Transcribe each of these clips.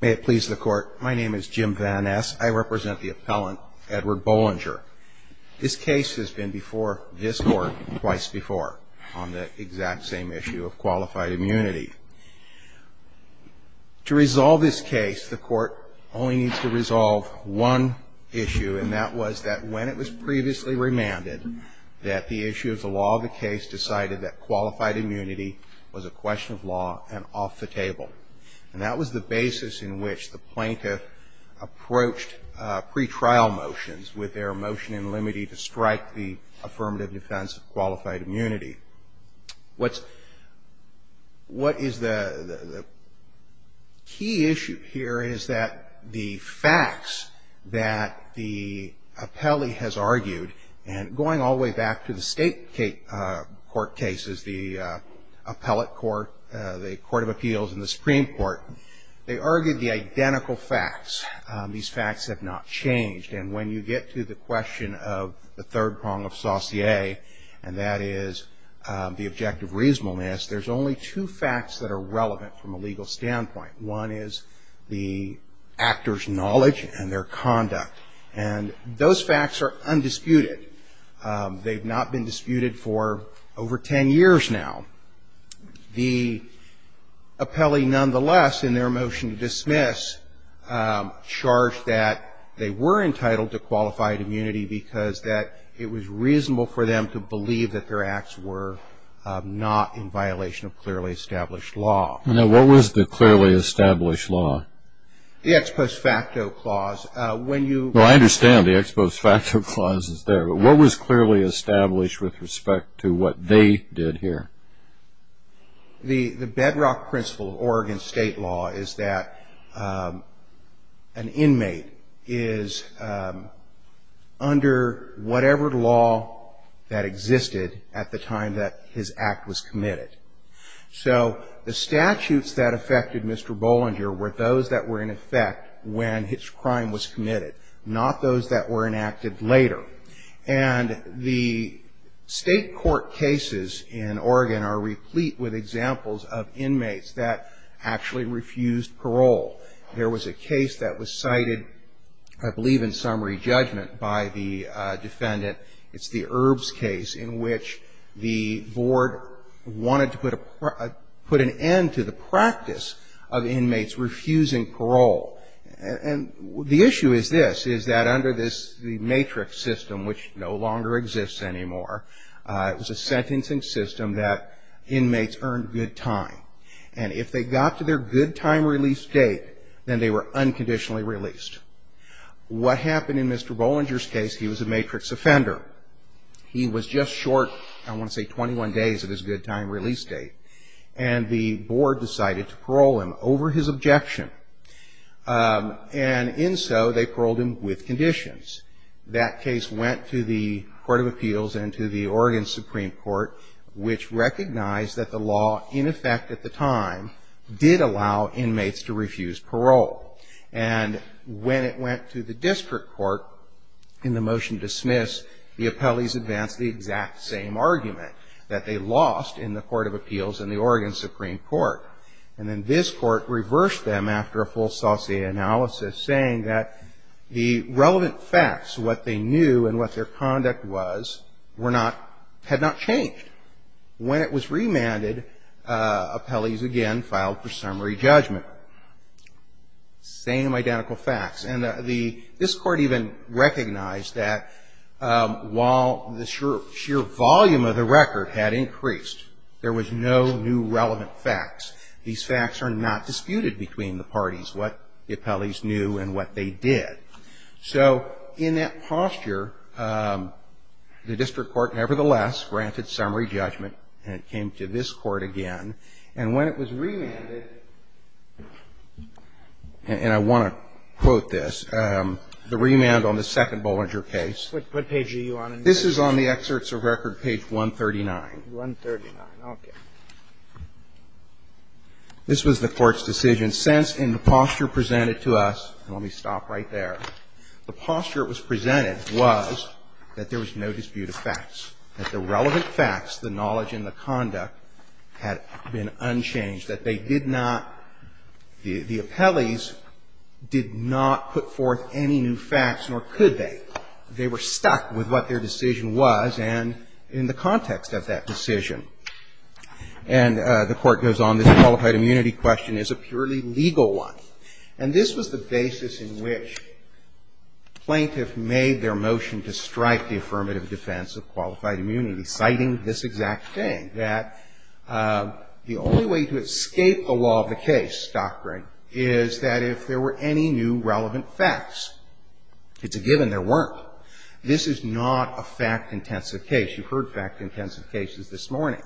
May it please the Court, my name is Jim Van Ness. I represent the appellant, Edward Bollinger. This case has been before this Court twice before on the exact same issue of qualified immunity. To resolve this case, the Court only needs to resolve one issue, and that was that when it was previously remanded, that the issue of the law of the case decided that qualified immunity was a question of law and off the table. And that was the basis in which the plaintiff approached pretrial motions with their motion in limitee to strike the affirmative defense of qualified immunity. What is the key issue here is that the facts that the appellee has argued, and going all the way back to the state court cases, the appellate court, the Court of Appeals, and the Supreme Court, they argued the identical facts. These facts have not changed. And when you get to the question of the third prong of Saussure, and that is the objective reasonableness, there's only two facts that are relevant from a legal standpoint. One is the actor's knowledge and their conduct. And those facts are undisputed. They've not been disputed for over ten years now. The appellee, nonetheless, in their motion to dismiss, charged that they were entitled to qualified immunity because that it was reasonable for them to believe that their acts were not in violation of clearly established law. Now, what was the clearly established law? The Ex Post Facto Clause. Well, I understand the Ex Post Facto Clause is there, but what was clearly established with respect to what they did here? The bedrock principle of Oregon state law is that an inmate is under whatever law that existed at the time that his act was committed. So the statutes that affected Mr. Bollinger were those that were in effect when his crime was committed, not those that were enacted later. And the state court cases in Oregon are replete with examples of inmates that actually refused parole. There was a case that was cited, I believe, in summary judgment by the defendant. It's the Erbs case in which the board wanted to put an end to the practice of inmates refusing parole. And the issue is this, is that under the matrix system, which no longer exists anymore, it was a sentencing system that inmates earned good time. And if they got to their good time release date, then they were unconditionally released. What happened in Mr. Bollinger's case, he was a matrix offender. He was just short, I want to say, 21 days of his good time release date. And the board decided to parole him over his objection. And in so, they paroled him with conditions. That case went to the Court of Appeals and to the Oregon Supreme Court, which recognized that the law, in effect at the time, did allow inmates to refuse parole. And when it went to the district court in the motion to dismiss, the appellees advanced the exact same argument that they lost in the Court of Appeals and the Oregon Supreme Court. And then this court reversed them after a full Saucier analysis, saying that the relevant facts, what they knew and what their conduct was, were not, had not changed. When it was remanded, appellees again filed for summary judgment. Same identical facts. And the, this court even recognized that while the sheer volume of the record had increased, there was no new relevant facts. These facts are not disputed between the parties, what the appellees knew and what they did. So in that posture, the district court nevertheless granted summary judgment and it came to this court again. And when it was remanded, and I want to quote this. The remand on the second Bollinger case. What page are you on? This is on the Excerpts of Record, page 139. 139, okay. This was the Court's decision. Since in the posture presented to us, and let me stop right there, the posture it was presented was that there was no dispute of facts, that the relevant facts, the knowledge and the conduct had been unchanged, that they did not, the appellees did not put forth any new facts, nor could they. They were stuck with what their decision was and in the context of that decision. And the Court goes on, this qualified immunity question is a purely legal one. And this was the basis in which plaintiffs made their motion to strike the affirmative defense of qualified immunity, citing this exact thing, that the only way to escape the law of the case doctrine is that if there were any new relevant facts, it's a given there weren't. This is not a fact-intensive case. You've heard fact-intensive cases this morning.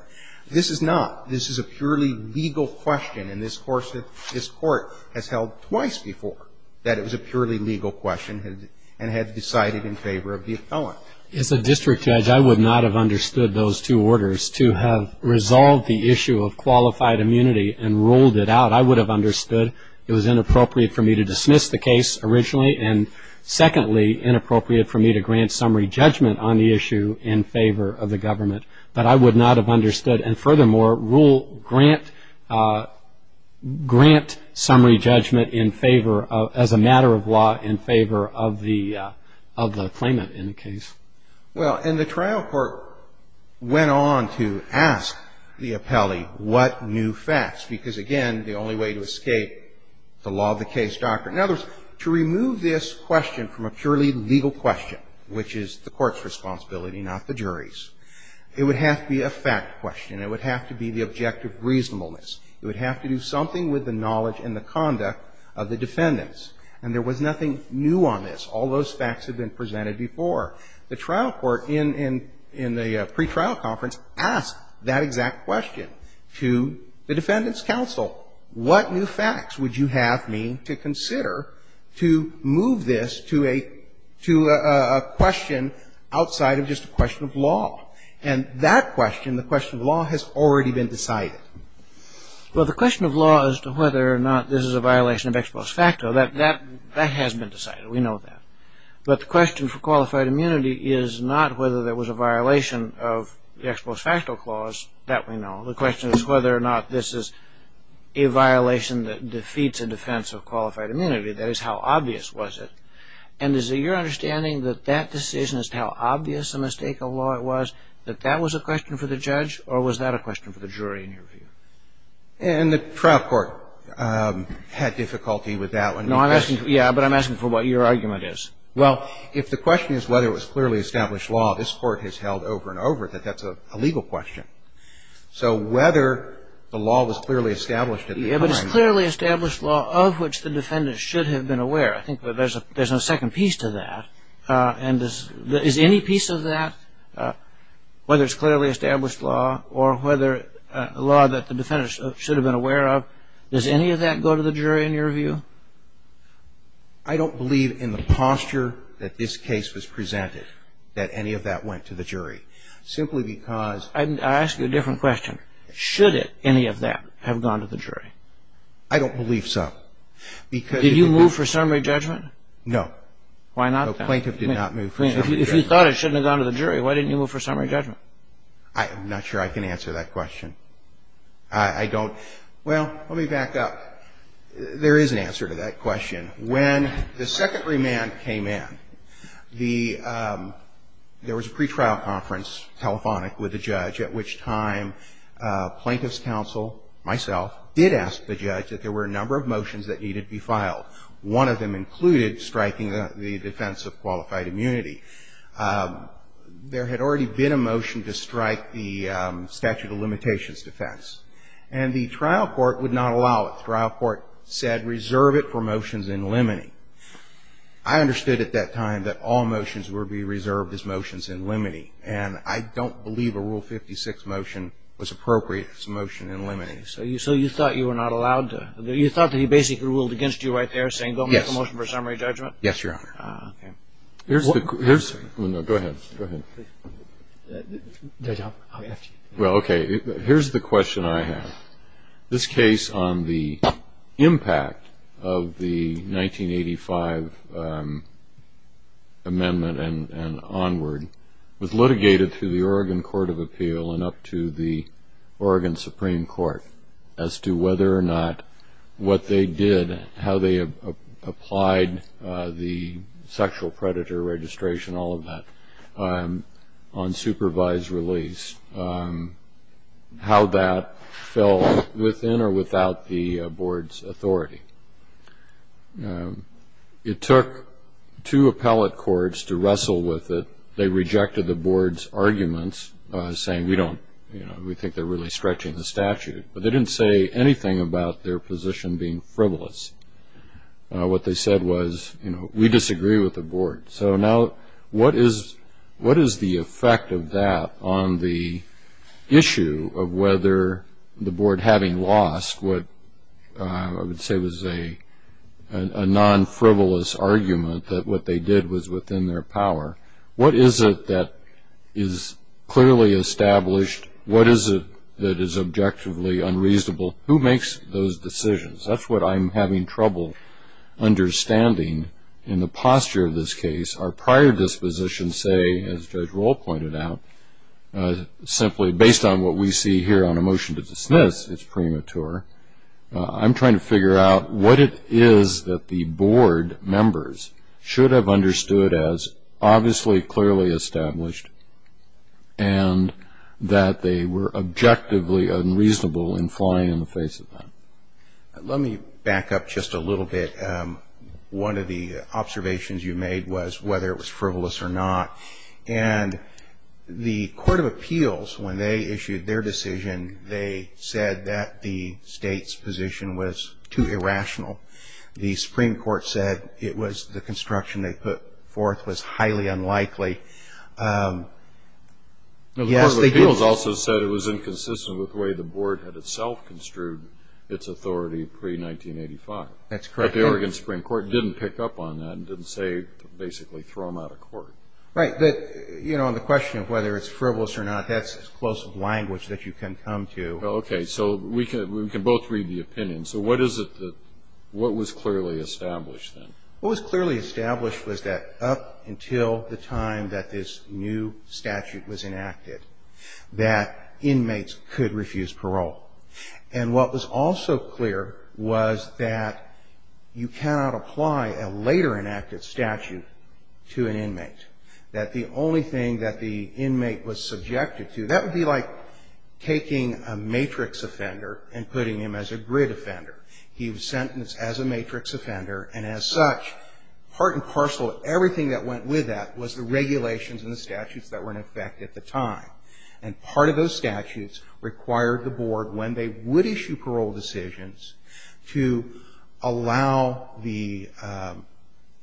This is not. This is a purely legal question and this Court has held twice before that it was a purely legal question and had decided in favor of the appellant. As a district judge, I would not have understood those two orders to have resolved the issue of qualified immunity and ruled it out. I would have understood it was inappropriate for me to dismiss the case originally and secondly, inappropriate for me to grant summary judgment on the issue in favor of the government. But I would not have understood. And furthermore, rule grant, grant summary judgment in favor of, as a matter of law, in favor of the claimant in the case. Well, and the trial court went on to ask the appellee what new facts because, again, the only way to escape the law of the case doctrine. In other words, to remove this question from a purely legal question, which is the Court's responsibility, not the jury's, it would have to be a fact question. It would have to be the objective reasonableness. It would have to do something with the knowledge and the conduct of the defendants. And there was nothing new on this. All those facts had been presented before. The trial court in the pretrial conference asked that exact question to the defendants' counsel. What new facts would you have me to consider to move this to a question outside of just a question of law? And that question, the question of law, has already been decided. Well, the question of law as to whether or not this is a violation of ex post facto, that has been decided. We know that. But the question for qualified immunity is not whether there was a violation of the ex post facto clause. That we know. The question is whether or not this is a violation that defeats a defense of qualified immunity. That is, how obvious was it? And is it your understanding that that decision as to how obvious a mistake of law it was, that that was a question for the judge? Or was that a question for the jury in your view? And the trial court had difficulty with that one. No, I'm asking you. Yeah, but I'm asking for what your argument is. Well, if the question is whether it was clearly established law, this Court has held over and over that that's a legal question. So whether the law was clearly established at the time. Yeah, but it's clearly established law of which the defendant should have been aware. I think there's a second piece to that. And is any piece of that, whether it's clearly established law or whether a law that the defendant should have been aware of, does any of that go to the jury in your view? I don't believe in the posture that this case was presented that any of that went to the jury. Simply because. I ask you a different question. Should any of that have gone to the jury? I don't believe so. Did you move for summary judgment? No. Why not, then? The plaintiff did not move for summary judgment. If you thought it shouldn't have gone to the jury, why didn't you move for summary judgment? I'm not sure I can answer that question. I don't. Well, let me back up. There is an answer to that question. When the second remand came in, the – there was a pretrial conference telephonic with the judge at which time plaintiff's counsel, myself, did ask the judge that there were a number of motions that needed to be filed. One of them included striking the defense of qualified immunity. There had already been a motion to strike the statute of limitations defense. And the trial court would not allow it. The trial court said reserve it for motions in limine. I understood at that time that all motions would be reserved as motions in limine. And I don't believe a Rule 56 motion was appropriate as a motion in limine. Okay. So you thought you were not allowed to – you thought that he basically ruled against you right there, saying go make a motion for summary judgment? Yes, Your Honor. Okay. Here's the – oh, no, go ahead. Go ahead. Judge Hopper, I'll ask you. Well, okay. Here's the question I have. This case on the impact of the 1985 amendment and onward was litigated through the Oregon Court of Appeal and up to the Oregon Supreme Court as to whether or not what they did, how they applied the sexual predator registration, all of that, on supervised release, how that fell within or without the board's authority. It took two appellate courts to wrestle with it. They rejected the board's arguments, saying we don't – you know, we think they're really stretching the statute. But they didn't say anything about their position being frivolous. What they said was, you know, we disagree with the board. So now what is the effect of that on the issue of whether the board having lost what I would say was a non-frivolous argument that what they did was within their power? What is it that is clearly established? What is it that is objectively unreasonable? Who makes those decisions? That's what I'm having trouble understanding in the posture of this case. Our prior dispositions say, as Judge Roll pointed out, simply based on what we see here on a motion to dismiss, it's premature. I'm trying to figure out what it is that the board members should have understood as obviously, clearly established and that they were objectively unreasonable in flying in the face of that. Let me back up just a little bit. One of the observations you made was whether it was frivolous or not. And the Court of Appeals, when they issued their decision, they said that the state's position was too irrational. The Supreme Court said it was the construction they put forth was highly unlikely. Yes, they did. The Court of Appeals also said it was inconsistent with the way the board had itself construed its authority pre-1985. That's correct. But the Oregon Supreme Court didn't pick up on that and didn't say basically throw them out of court. Right. But, you know, on the question of whether it's frivolous or not, that's as close of language that you can come to. Okay. So we can both read the opinion. So what was clearly established then? What was clearly established was that up until the time that this new statute was enacted, that inmates could refuse parole. And what was also clear was that you cannot apply a later enacted statute to an inmate. That the only thing that the inmate was subjected to, that would be like taking a matrix offender and putting him as a grid offender. He was sentenced as a matrix offender. And as such, part and parcel of everything that went with that was the regulations and the statutes that were in effect at the time. And part of those statutes required the board, when they would issue parole decisions, to allow the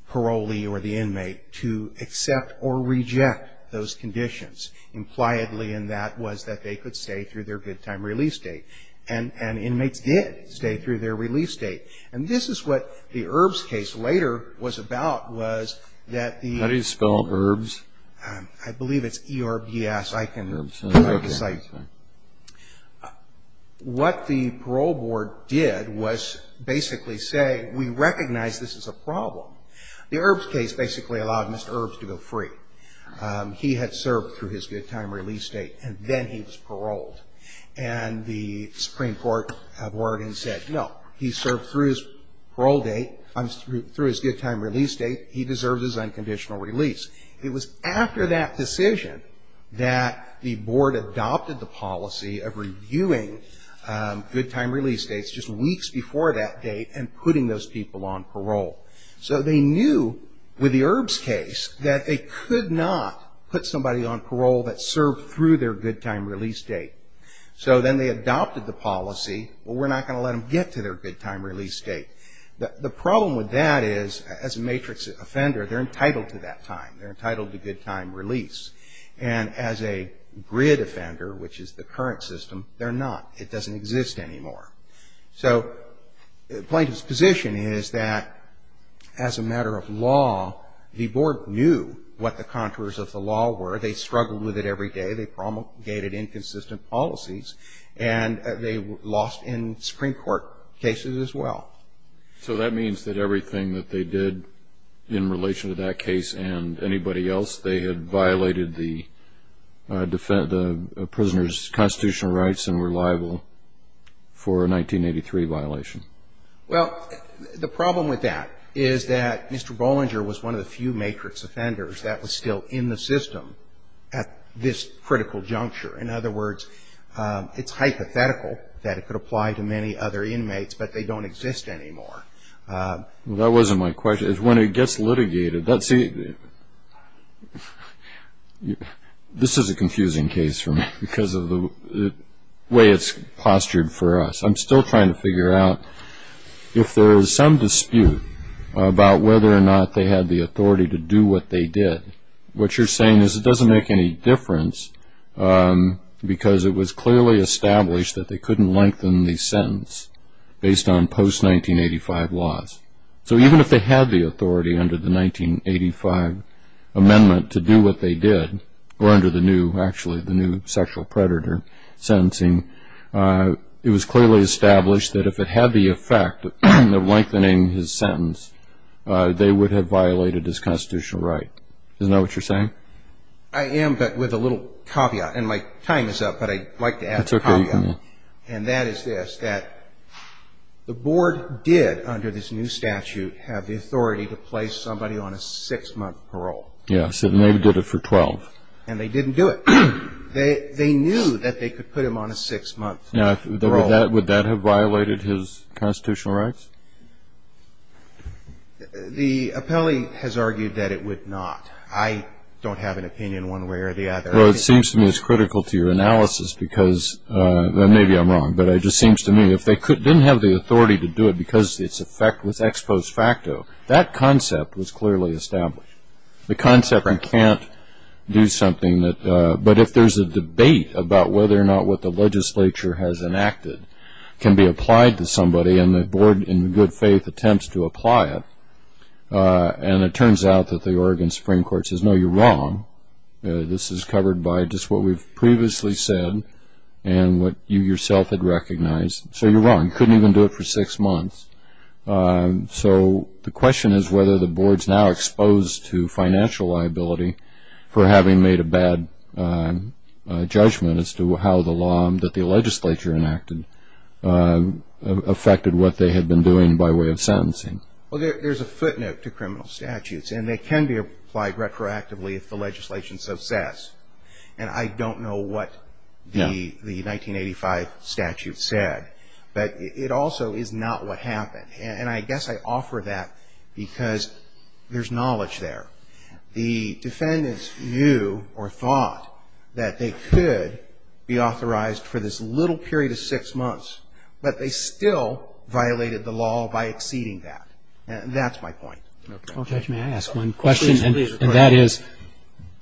parolee or the inmate to accept or reject those conditions. Impliedly in that was that they could stay through their good time release date. And inmates did stay through their release date. And this is what the Erbs case later was about, was that the. How do you spell Erbs? I believe it's E-R-B-S. I can. What the parole board did was basically say, we recognize this is a problem. The Erbs case basically allowed Mr. Erbs to go free. He had served through his good time release date, and then he was paroled. And the Supreme Court have ordered and said, no, he served through his parole date, through his good time release date, he deserves his unconditional release. It was after that decision that the board adopted the policy of reviewing good time release dates just weeks before that date and putting those people on parole. So they knew with the Erbs case that they could not put somebody on parole that served through their good time release date. So then they adopted the policy, well, we're not going to let them get to their good time release date. The problem with that is, as a matrix offender, they're entitled to that time. They're entitled to good time release. And as a grid offender, which is the current system, they're not. It doesn't exist anymore. So plaintiff's position is that as a matter of law, the board knew what the contours of the law were. They struggled with it every day. They promulgated inconsistent policies. And they lost in Supreme Court cases as well. So that means that everything that they did in relation to that case and anybody else, they had violated the prisoner's constitutional rights and were liable for a 1983 violation. Well, the problem with that is that Mr. Bollinger was one of the few matrix offenders that was still in the system at this critical juncture. In other words, it's hypothetical that it could apply to many other inmates, but they don't exist anymore. Well, that wasn't my question. When it gets litigated, this is a confusing case for me because of the way it's postured for us. I'm still trying to figure out if there is some dispute about whether or not they had the authority to do what they did. What you're saying is it doesn't make any difference because it was clearly established that they couldn't lengthen the sentence based on post-1985 laws. So even if they had the authority under the 1985 amendment to do what they did, or under the new sexual predator sentencing, it was clearly established that if it had the effect of lengthening his sentence, they would have violated his constitutional right. Isn't that what you're saying? I am, but with a little caveat. And my time is up, but I'd like to add a caveat. That's okay. And that is this, that the board did, under this new statute, have the authority to place somebody on a six-month parole. Yes, and they did it for 12. And they didn't do it. They knew that they could put him on a six-month parole. Now, would that have violated his constitutional rights? The appellee has argued that it would not. I don't have an opinion one way or the other. Well, it seems to me it's critical to your analysis because, and maybe I'm wrong, but it just seems to me if they didn't have the authority to do it because its effect was ex post facto, that concept was clearly established. The concept you can't do something, but if there's a debate about whether or not what the legislature has enacted can be applied to somebody and the board, in good faith, attempts to apply it, and it turns out that the Oregon Supreme Court says, no, you're wrong. This is covered by just what we've previously said and what you yourself had recognized. So you're wrong. You couldn't even do it for six months. So the question is whether the board's now exposed to financial liability for having made a bad judgment as to how the law that the legislature enacted affected what they had been doing by way of sentencing. Well, there's a footnote to criminal statutes, and they can be applied retroactively if the legislation's success. And I don't know what the 1985 statute said, but it also is not what happened. And I guess I offer that because there's knowledge there. The defendants knew or thought that they could be authorized for this little period of six months, but they still violated the law by exceeding that. That's my point. Okay. Judge, may I ask one question? Please do. And that is,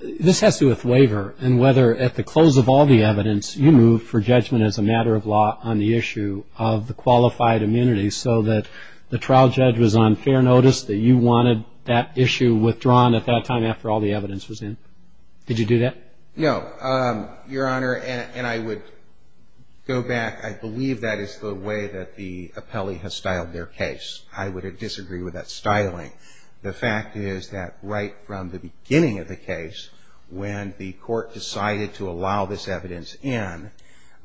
this has to do with waiver and whether at the close of all the evidence you moved for judgment as a matter of law on the issue of the qualified immunity so that the trial judge was on fair notice, that you wanted that issue withdrawn at that time after all the evidence was in. Did you do that? No, Your Honor, and I would go back. I believe that is the way that the appellee has styled their case. I would disagree with that styling. The fact is that right from the beginning of the case, when the court decided to allow this evidence in,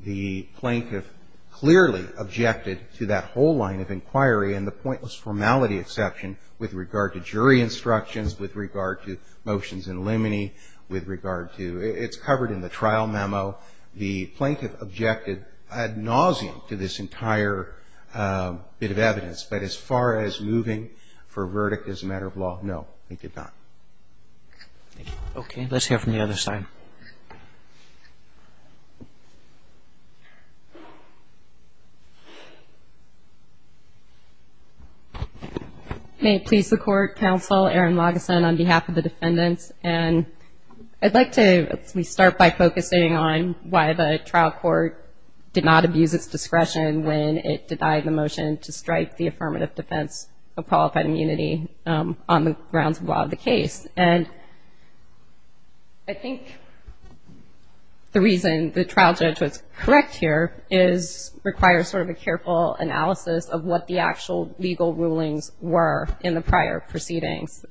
the plaintiff clearly objected to that whole line of inquiry and the pointless formality exception with regard to jury instructions, with regard to motions in limine, with regard to it's covered in the trial memo. The plaintiff objected ad nauseum to this entire bit of evidence. But as far as moving for verdict as a matter of law, no, they did not. Okay. Let's hear from the other side. May it please the court, counsel, Erin Lageson on behalf of the defendants, and I'd like to at least start by focusing on why the trial court did not abuse its discretion when it denied the motion to strike the affirmative defense of qualified immunity on the grounds of law of the case. And I think the reason the trial judge was correct here is requires sort of a careful analysis of what the actual legal rulings were in the prior proceedings.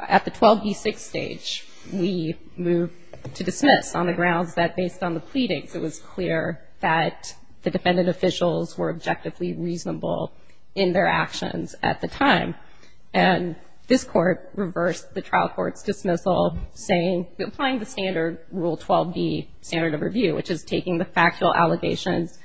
At the 12B6 stage, we moved to dismiss on the grounds that based on the pleadings, it was clear that the defendant officials were objectively reasonable in their actions at the time. And this court reversed the trial court's dismissal, saying, applying the standard rule 12B standard of review, which is taking the factual allegations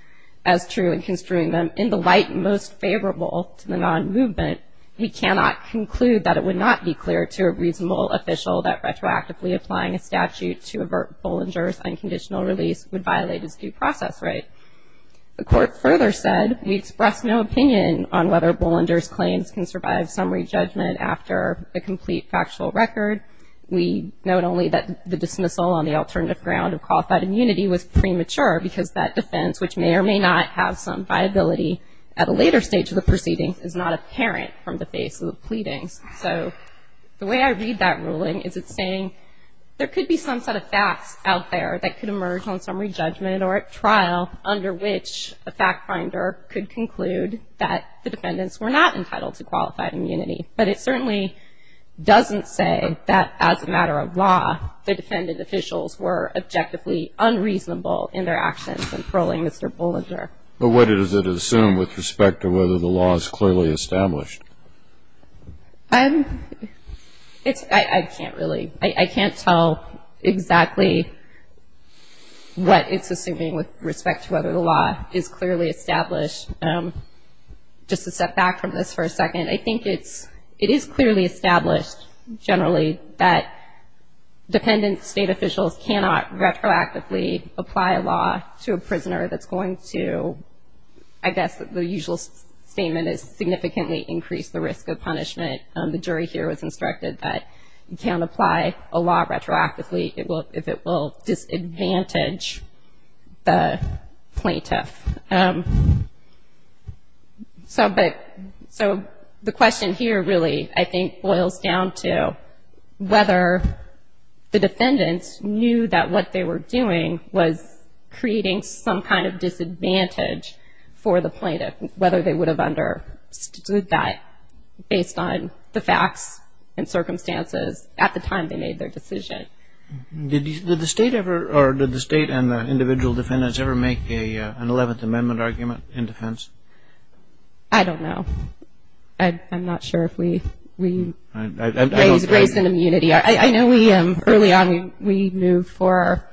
as true and construing them in the light most favorable to the non-movement, we cannot conclude that it would not be clear to a reasonable official that retroactively applying a statute to avert Bollinger's unconditional release would violate his due process right. The court further said we expressed no opinion on whether Bollinger's claims can survive summary judgment after a complete factual record. We note only that the dismissal on the alternative ground of qualified immunity was premature because that defense, which may or may not have some viability at a later stage of the proceedings, is not apparent from the face of the pleadings. So the way I read that ruling is it's saying there could be some set of facts out there that could emerge on summary judgment or at trial under which a fact finder could conclude that the defendants were not entitled to qualified immunity. But it certainly doesn't say that as a matter of law, the defendant officials were objectively unreasonable in their actions in paroling Mr. Bollinger. But what does it assume with respect to whether the law is clearly established? It's, I can't really, I can't tell exactly what it's assuming with respect to whether the law is clearly established. Just to step back from this for a second, I think it's, it is clearly established generally that dependent state officials cannot retroactively apply a law to a prisoner that's going to, I guess the usual statement is significantly increase the risk of punishment. The jury here was instructed that you can't apply a law retroactively if it will disadvantage the plaintiff. So the question here really, I think, boils down to whether the defendants knew that what they were doing was creating some kind of disadvantage for the plaintiff, whether they would have understood that based on the facts and circumstances at the time they made their decision. Did the state ever, or did the state and the individual defendants ever make an 11th Amendment argument in defense? I don't know. I'm not sure if we raised an immunity. I know we, early on, we moved for,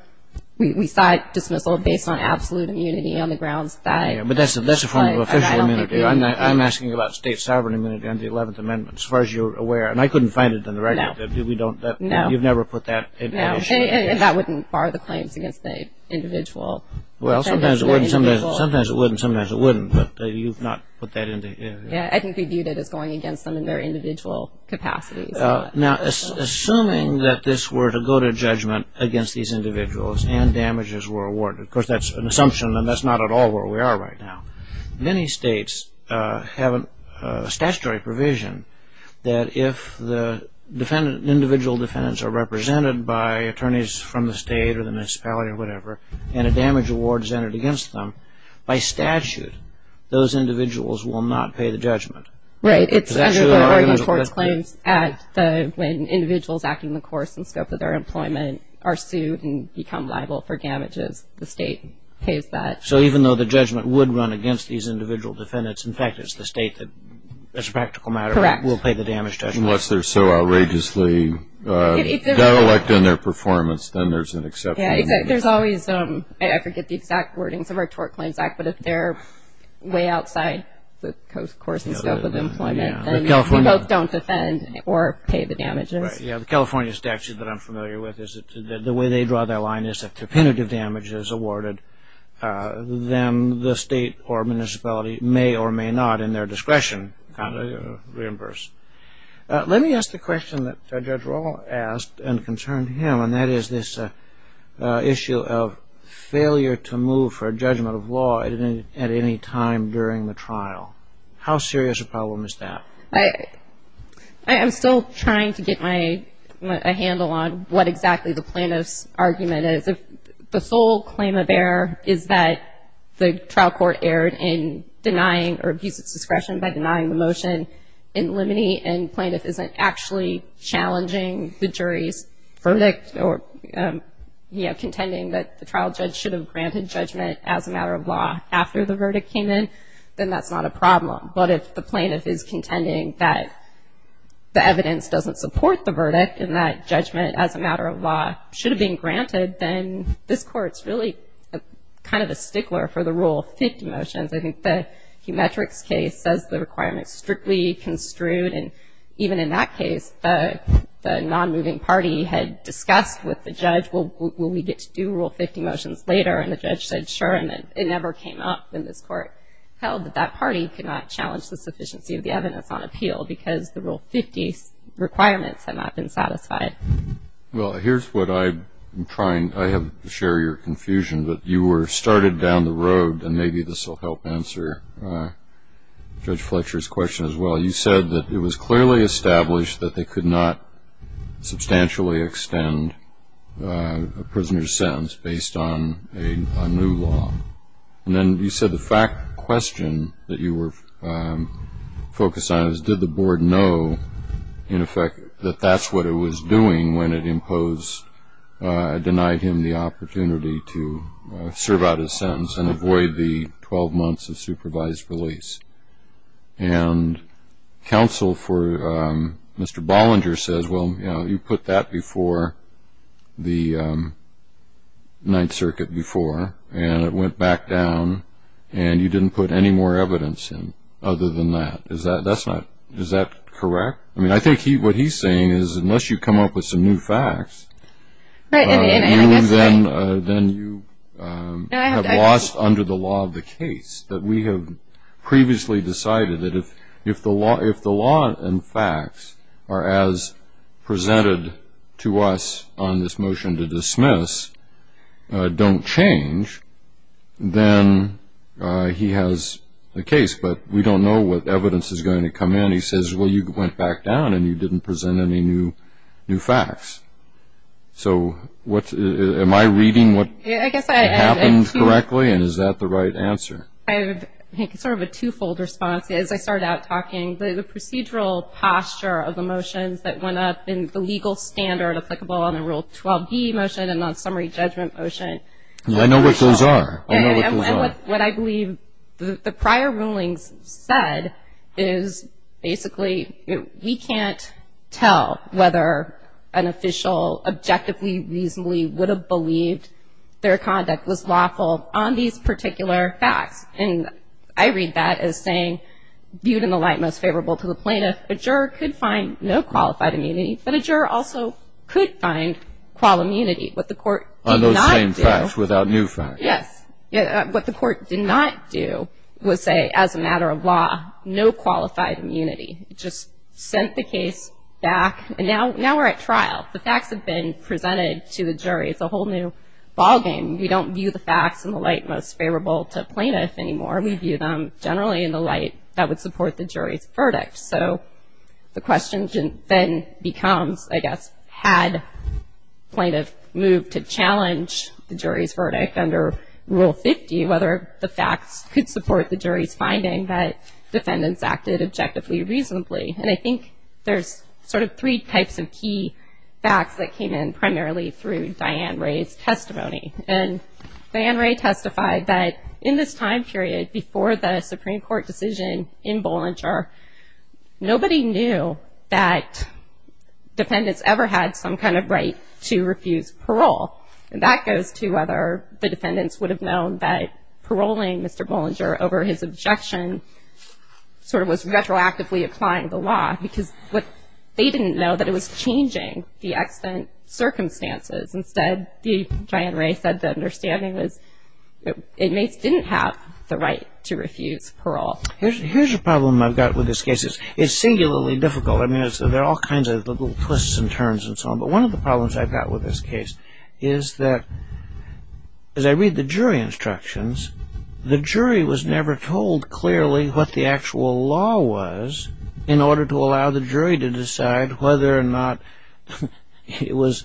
we sought dismissal based on absolute immunity on the grounds that. Yeah, but that's a form of official immunity. I'm asking about state sovereign immunity on the 11th Amendment, as far as you're aware. And I couldn't find it in the record. No. We don't, you've never put that issue. No, and that wouldn't bar the claims against the individual. Well, sometimes it would and sometimes it wouldn't, but you've not put that into. Yeah, I think we viewed it as going against them in their individual capacities. Now, assuming that this were to go to judgment against these individuals and damages were awarded. Of course, that's an assumption, and that's not at all where we are right now. Many states have a statutory provision that if the individual defendants are represented by attorneys from the state or the municipality or whatever, and a damage award is entered against them, by statute, those individuals will not pay the judgment. Right, it's under the Oregon Torts Claims Act when individuals acting in the course and scope of their employment are sued and become liable for damages, the state pays that. So even though the judgment would run against these individual defendants, in fact it's the state that as a practical matter will pay the damage judgment. Unless they're so outrageously dialect in their performance, then there's an exception. Yeah, there's always, I forget the exact wordings of our Tort Claims Act, but if they're way outside the course and scope of employment, then we both don't defend or pay the damages. Right, yeah, the California statute that I'm familiar with is that the way they draw their line is that if repetitive damage is awarded, then the state or municipality may or may not, in their discretion, reimburse. Let me ask the question that Judge Roll asked and concerned him, and that is this issue of failure to move for judgment of law. I didn't at any time during the trial. How serious a problem is that? I am still trying to get a handle on what exactly the plaintiff's argument is. The sole claim of error is that the trial court erred in denying or abused its discretion by denying the motion. In limine and plaintiff isn't actually challenging the jury's verdict or contending that the trial judge should have granted judgment as a matter of law after the verdict came in, then that's not a problem. But if the plaintiff is contending that the evidence doesn't support the verdict and that judgment as a matter of law should have been granted, then this court's really kind of a stickler for the Rule of Fifty Motions. I think the Humetrix case says the requirements strictly construed, and even in that case the non-moving party had discussed with the judge, will we get to do Rule of Fifty Motions later, and the judge said, sure, and it never came up in this court held that that party could not challenge the sufficiency of the evidence on appeal because the Rule of Fifty requirements had not been satisfied. Well, here's what I'm trying, I have to share your confusion, but you were started down the road, and maybe this will help answer Judge Fletcher's question as well. You said that it was clearly established that they could not substantially extend a prisoner's sentence based on a new law. And then you said the fact question that you were focused on is, did the board know, in effect, that that's what it was doing when it imposed, denied him the opportunity to serve out his sentence and avoid the 12 months of supervised release? And counsel for Mr. Bollinger says, well, you put that before the Ninth Circuit before, and it went back down, and you didn't put any more evidence in other than that. Is that correct? I mean, I think what he's saying is unless you come up with some new facts, then you have lost under the law of the case. We have previously decided that if the law and facts are as presented to us on this motion to dismiss, don't change, then he has a case, but we don't know what evidence is going to come in. And he says, well, you went back down, and you didn't present any new facts. So am I reading what happened correctly, and is that the right answer? I think it's sort of a twofold response. As I started out talking, the procedural posture of the motions that went up in the legal standard applicable on the Rule 12b motion and on summary judgment motion. I know what those are. And what I believe the prior rulings said is basically we can't tell whether an official objectively, reasonably would have believed their conduct was lawful on these particular facts. And I read that as saying, viewed in the light most favorable to the plaintiff, a juror could find no qualified immunity, but a juror also could find qual immunity, what the court did not do. On those same facts without new facts. Yes. What the court did not do was say, as a matter of law, no qualified immunity. It just sent the case back, and now we're at trial. The facts have been presented to the jury. It's a whole new ballgame. We don't view the facts in the light most favorable to a plaintiff anymore. We view them generally in the light that would support the jury's verdict. So the question then becomes, I guess, had plaintiff moved to challenge the jury's verdict under Rule 50, whether the facts could support the jury's finding that defendants acted objectively, reasonably. And I think there's sort of three types of key facts that came in primarily through Diane Ray's testimony. And Diane Ray testified that in this time period before the Supreme Court decision in Bollinger, nobody knew that defendants ever had some kind of right to refuse parole. And that goes to whether the defendants would have known that paroling Mr. Bollinger over his objection sort of was retroactively applying the law, because they didn't know that it was changing the extant circumstances. Instead, Diane Ray said the understanding was inmates didn't have the right to refuse parole. Here's a problem I've got with this case. It's singularly difficult. I mean, there are all kinds of little twists and turns and so on. But one of the problems I've got with this case is that as I read the jury instructions, the jury was never told clearly what the actual law was in order to allow the jury to decide whether or not it was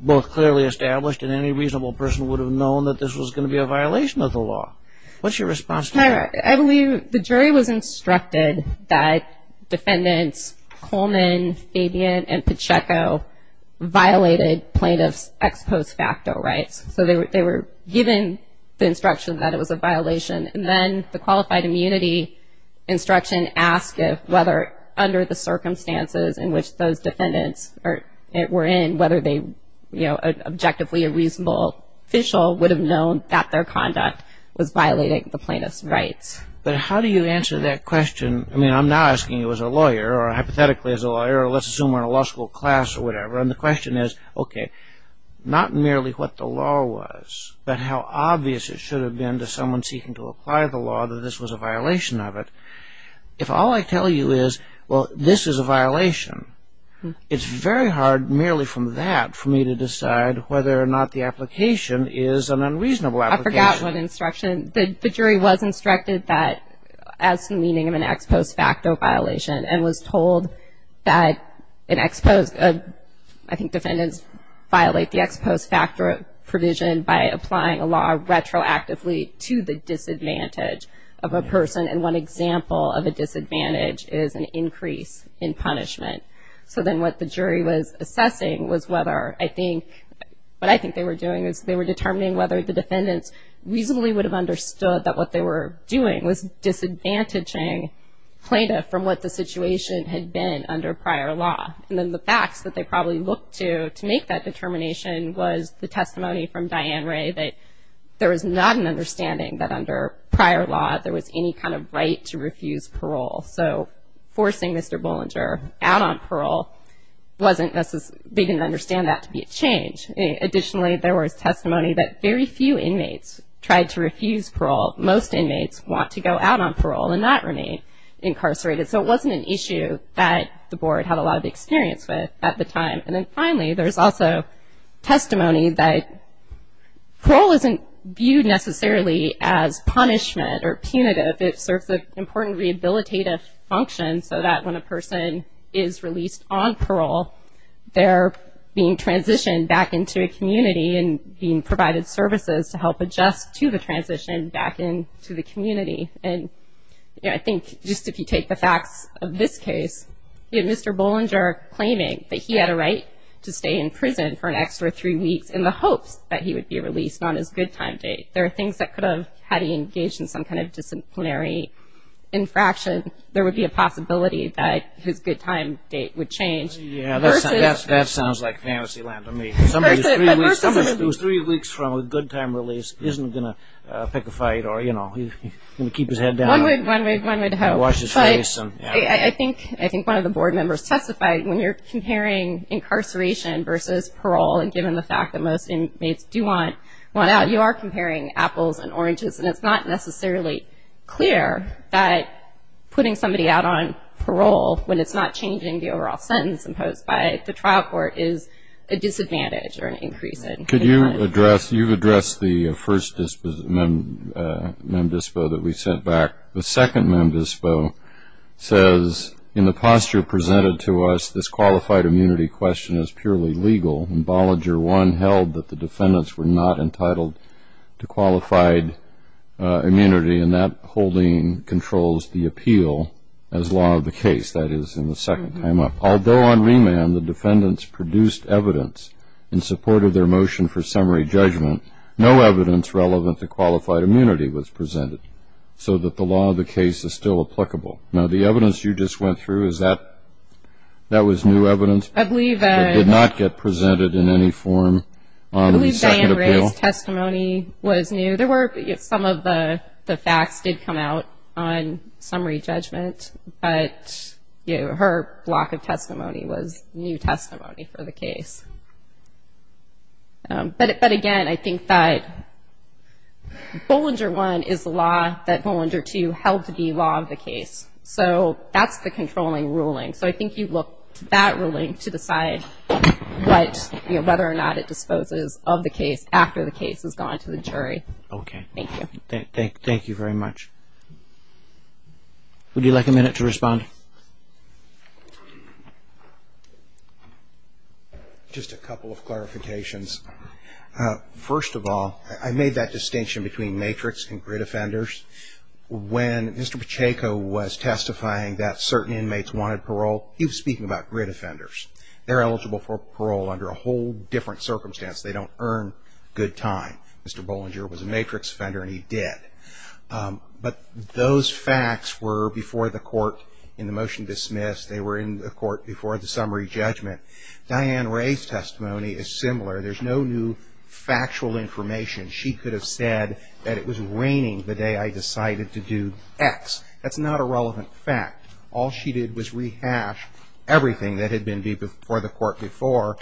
both clearly established and any reasonable person would have known that this was going to be a violation of the law. What's your response to that? I believe the jury was instructed that defendants Coleman, Fabian, and Pacheco violated plaintiff's ex post facto rights. So they were given the instruction that it was a violation, and then the qualified immunity instruction asked whether under the circumstances in which those defendants were in, whether objectively a reasonable official would have known that their conduct was violating the plaintiff's rights. But how do you answer that question? I mean, I'm now asking you as a lawyer, or hypothetically as a lawyer, or let's assume we're in a law school class or whatever, and the question is, okay, not merely what the law was, but how obvious it should have been to someone seeking to apply the law that this was a violation of it. If all I tell you is, well, this is a violation, it's very hard merely from that for me to decide whether or not the application is an unreasonable application. I forgot one instruction. The jury was instructed that as the meaning of an ex post facto violation and was told that an ex post, I think defendants violate the ex post facto provision by applying a law retroactively to the disadvantage of a person, and one example of a disadvantage is an increase in punishment. So then what the jury was assessing was whether I think, what I think they were doing is they were determining whether the defendants reasonably would have understood that what they were doing was disadvantaging plaintiff from what the situation had been under prior law. And then the facts that they probably looked to to make that determination was the testimony from Diane Ray that there was not an understanding that under prior law there was any kind of right to refuse parole. So forcing Mr. Bollinger out on parole wasn't necessarily, they didn't understand that to be a change. Additionally, there was testimony that very few inmates tried to refuse parole. Most inmates want to go out on parole and not remain incarcerated. So it wasn't an issue that the board had a lot of experience with at the time. And then finally, there's also testimony that parole isn't viewed necessarily as punishment or punitive. It serves an important rehabilitative function so that when a person is released on parole, they're being transitioned back into a community and being provided services to help adjust to the transition back into the community. And I think just if you take the facts of this case, Mr. Bollinger claiming that he had a right to stay in prison for an extra three weeks in the hopes that he would be released on his good time date. There are things that could have had he engaged in some kind of disciplinary infraction. There would be a possibility that his good time date would change. Yeah, that sounds like fantasy land to me. Somebody who's three weeks from a good time release isn't going to pick a fight or, you know, keep his head down and wash his face. I think one of the board members testified when you're comparing incarceration versus parole and given the fact that most inmates do want out, you are comparing apples and oranges. And it's not necessarily clear that putting somebody out on parole when it's not changing the overall sentence imposed by the trial court is a disadvantage or an increase in their time. You've addressed the first mem dispo that we sent back. The second mem dispo says, In the posture presented to us, this qualified immunity question is purely legal. And Bollinger 1 held that the defendants were not entitled to qualified immunity, and that holding controls the appeal as law of the case. That is, in the second time up. Although on remand the defendants produced evidence in support of their motion for summary judgment, no evidence relevant to qualified immunity was presented so that the law of the case is still applicable. Now, the evidence you just went through, is that new evidence? I believe Diane Ray's testimony was new. Some of the facts did come out on summary judgment, but her block of testimony was new testimony for the case. But again, I think that Bollinger 1 is the law that Bollinger 2 held to be law of the case. So that's the controlling ruling. So I think you look to that ruling to decide whether or not it disposes of the case after the case has gone to the jury. Okay. Thank you. Thank you very much. Would you like a minute to respond? Just a couple of clarifications. First of all, I made that distinction between matrix and grid offenders. When Mr. Pacheco was testifying that certain inmates wanted parole, he was speaking about grid offenders. They're eligible for parole under a whole different circumstance. They don't earn good time. Mr. Bollinger was a matrix offender, and he did. But those facts were before the court in the motion dismissed. They were in the court before the summary judgment. Diane Ray's testimony is similar. There's no new factual information. She could have said that it was raining the day I decided to do X. That's not a relevant fact. All she did was rehash everything that had been before the court before.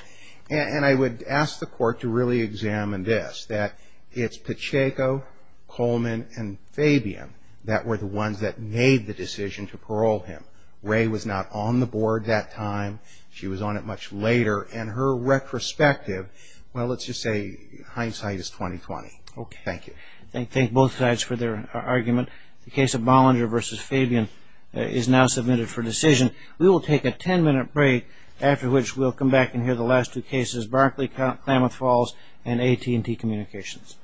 And I would ask the court to really examine this, that it's Pacheco, Coleman, and Fabian that were the ones that made the decision to parole him. Ray was not on the board that time. She was on it much later. And her retrospective, well, let's just say hindsight is 20-20. Okay. Thank you. Thank both sides for their argument. The case of Bollinger v. Fabian is now submitted for decision. We will take a ten-minute break after which we'll come back and hear the last two cases, Barclay-Klamath Falls and AT&T Communications.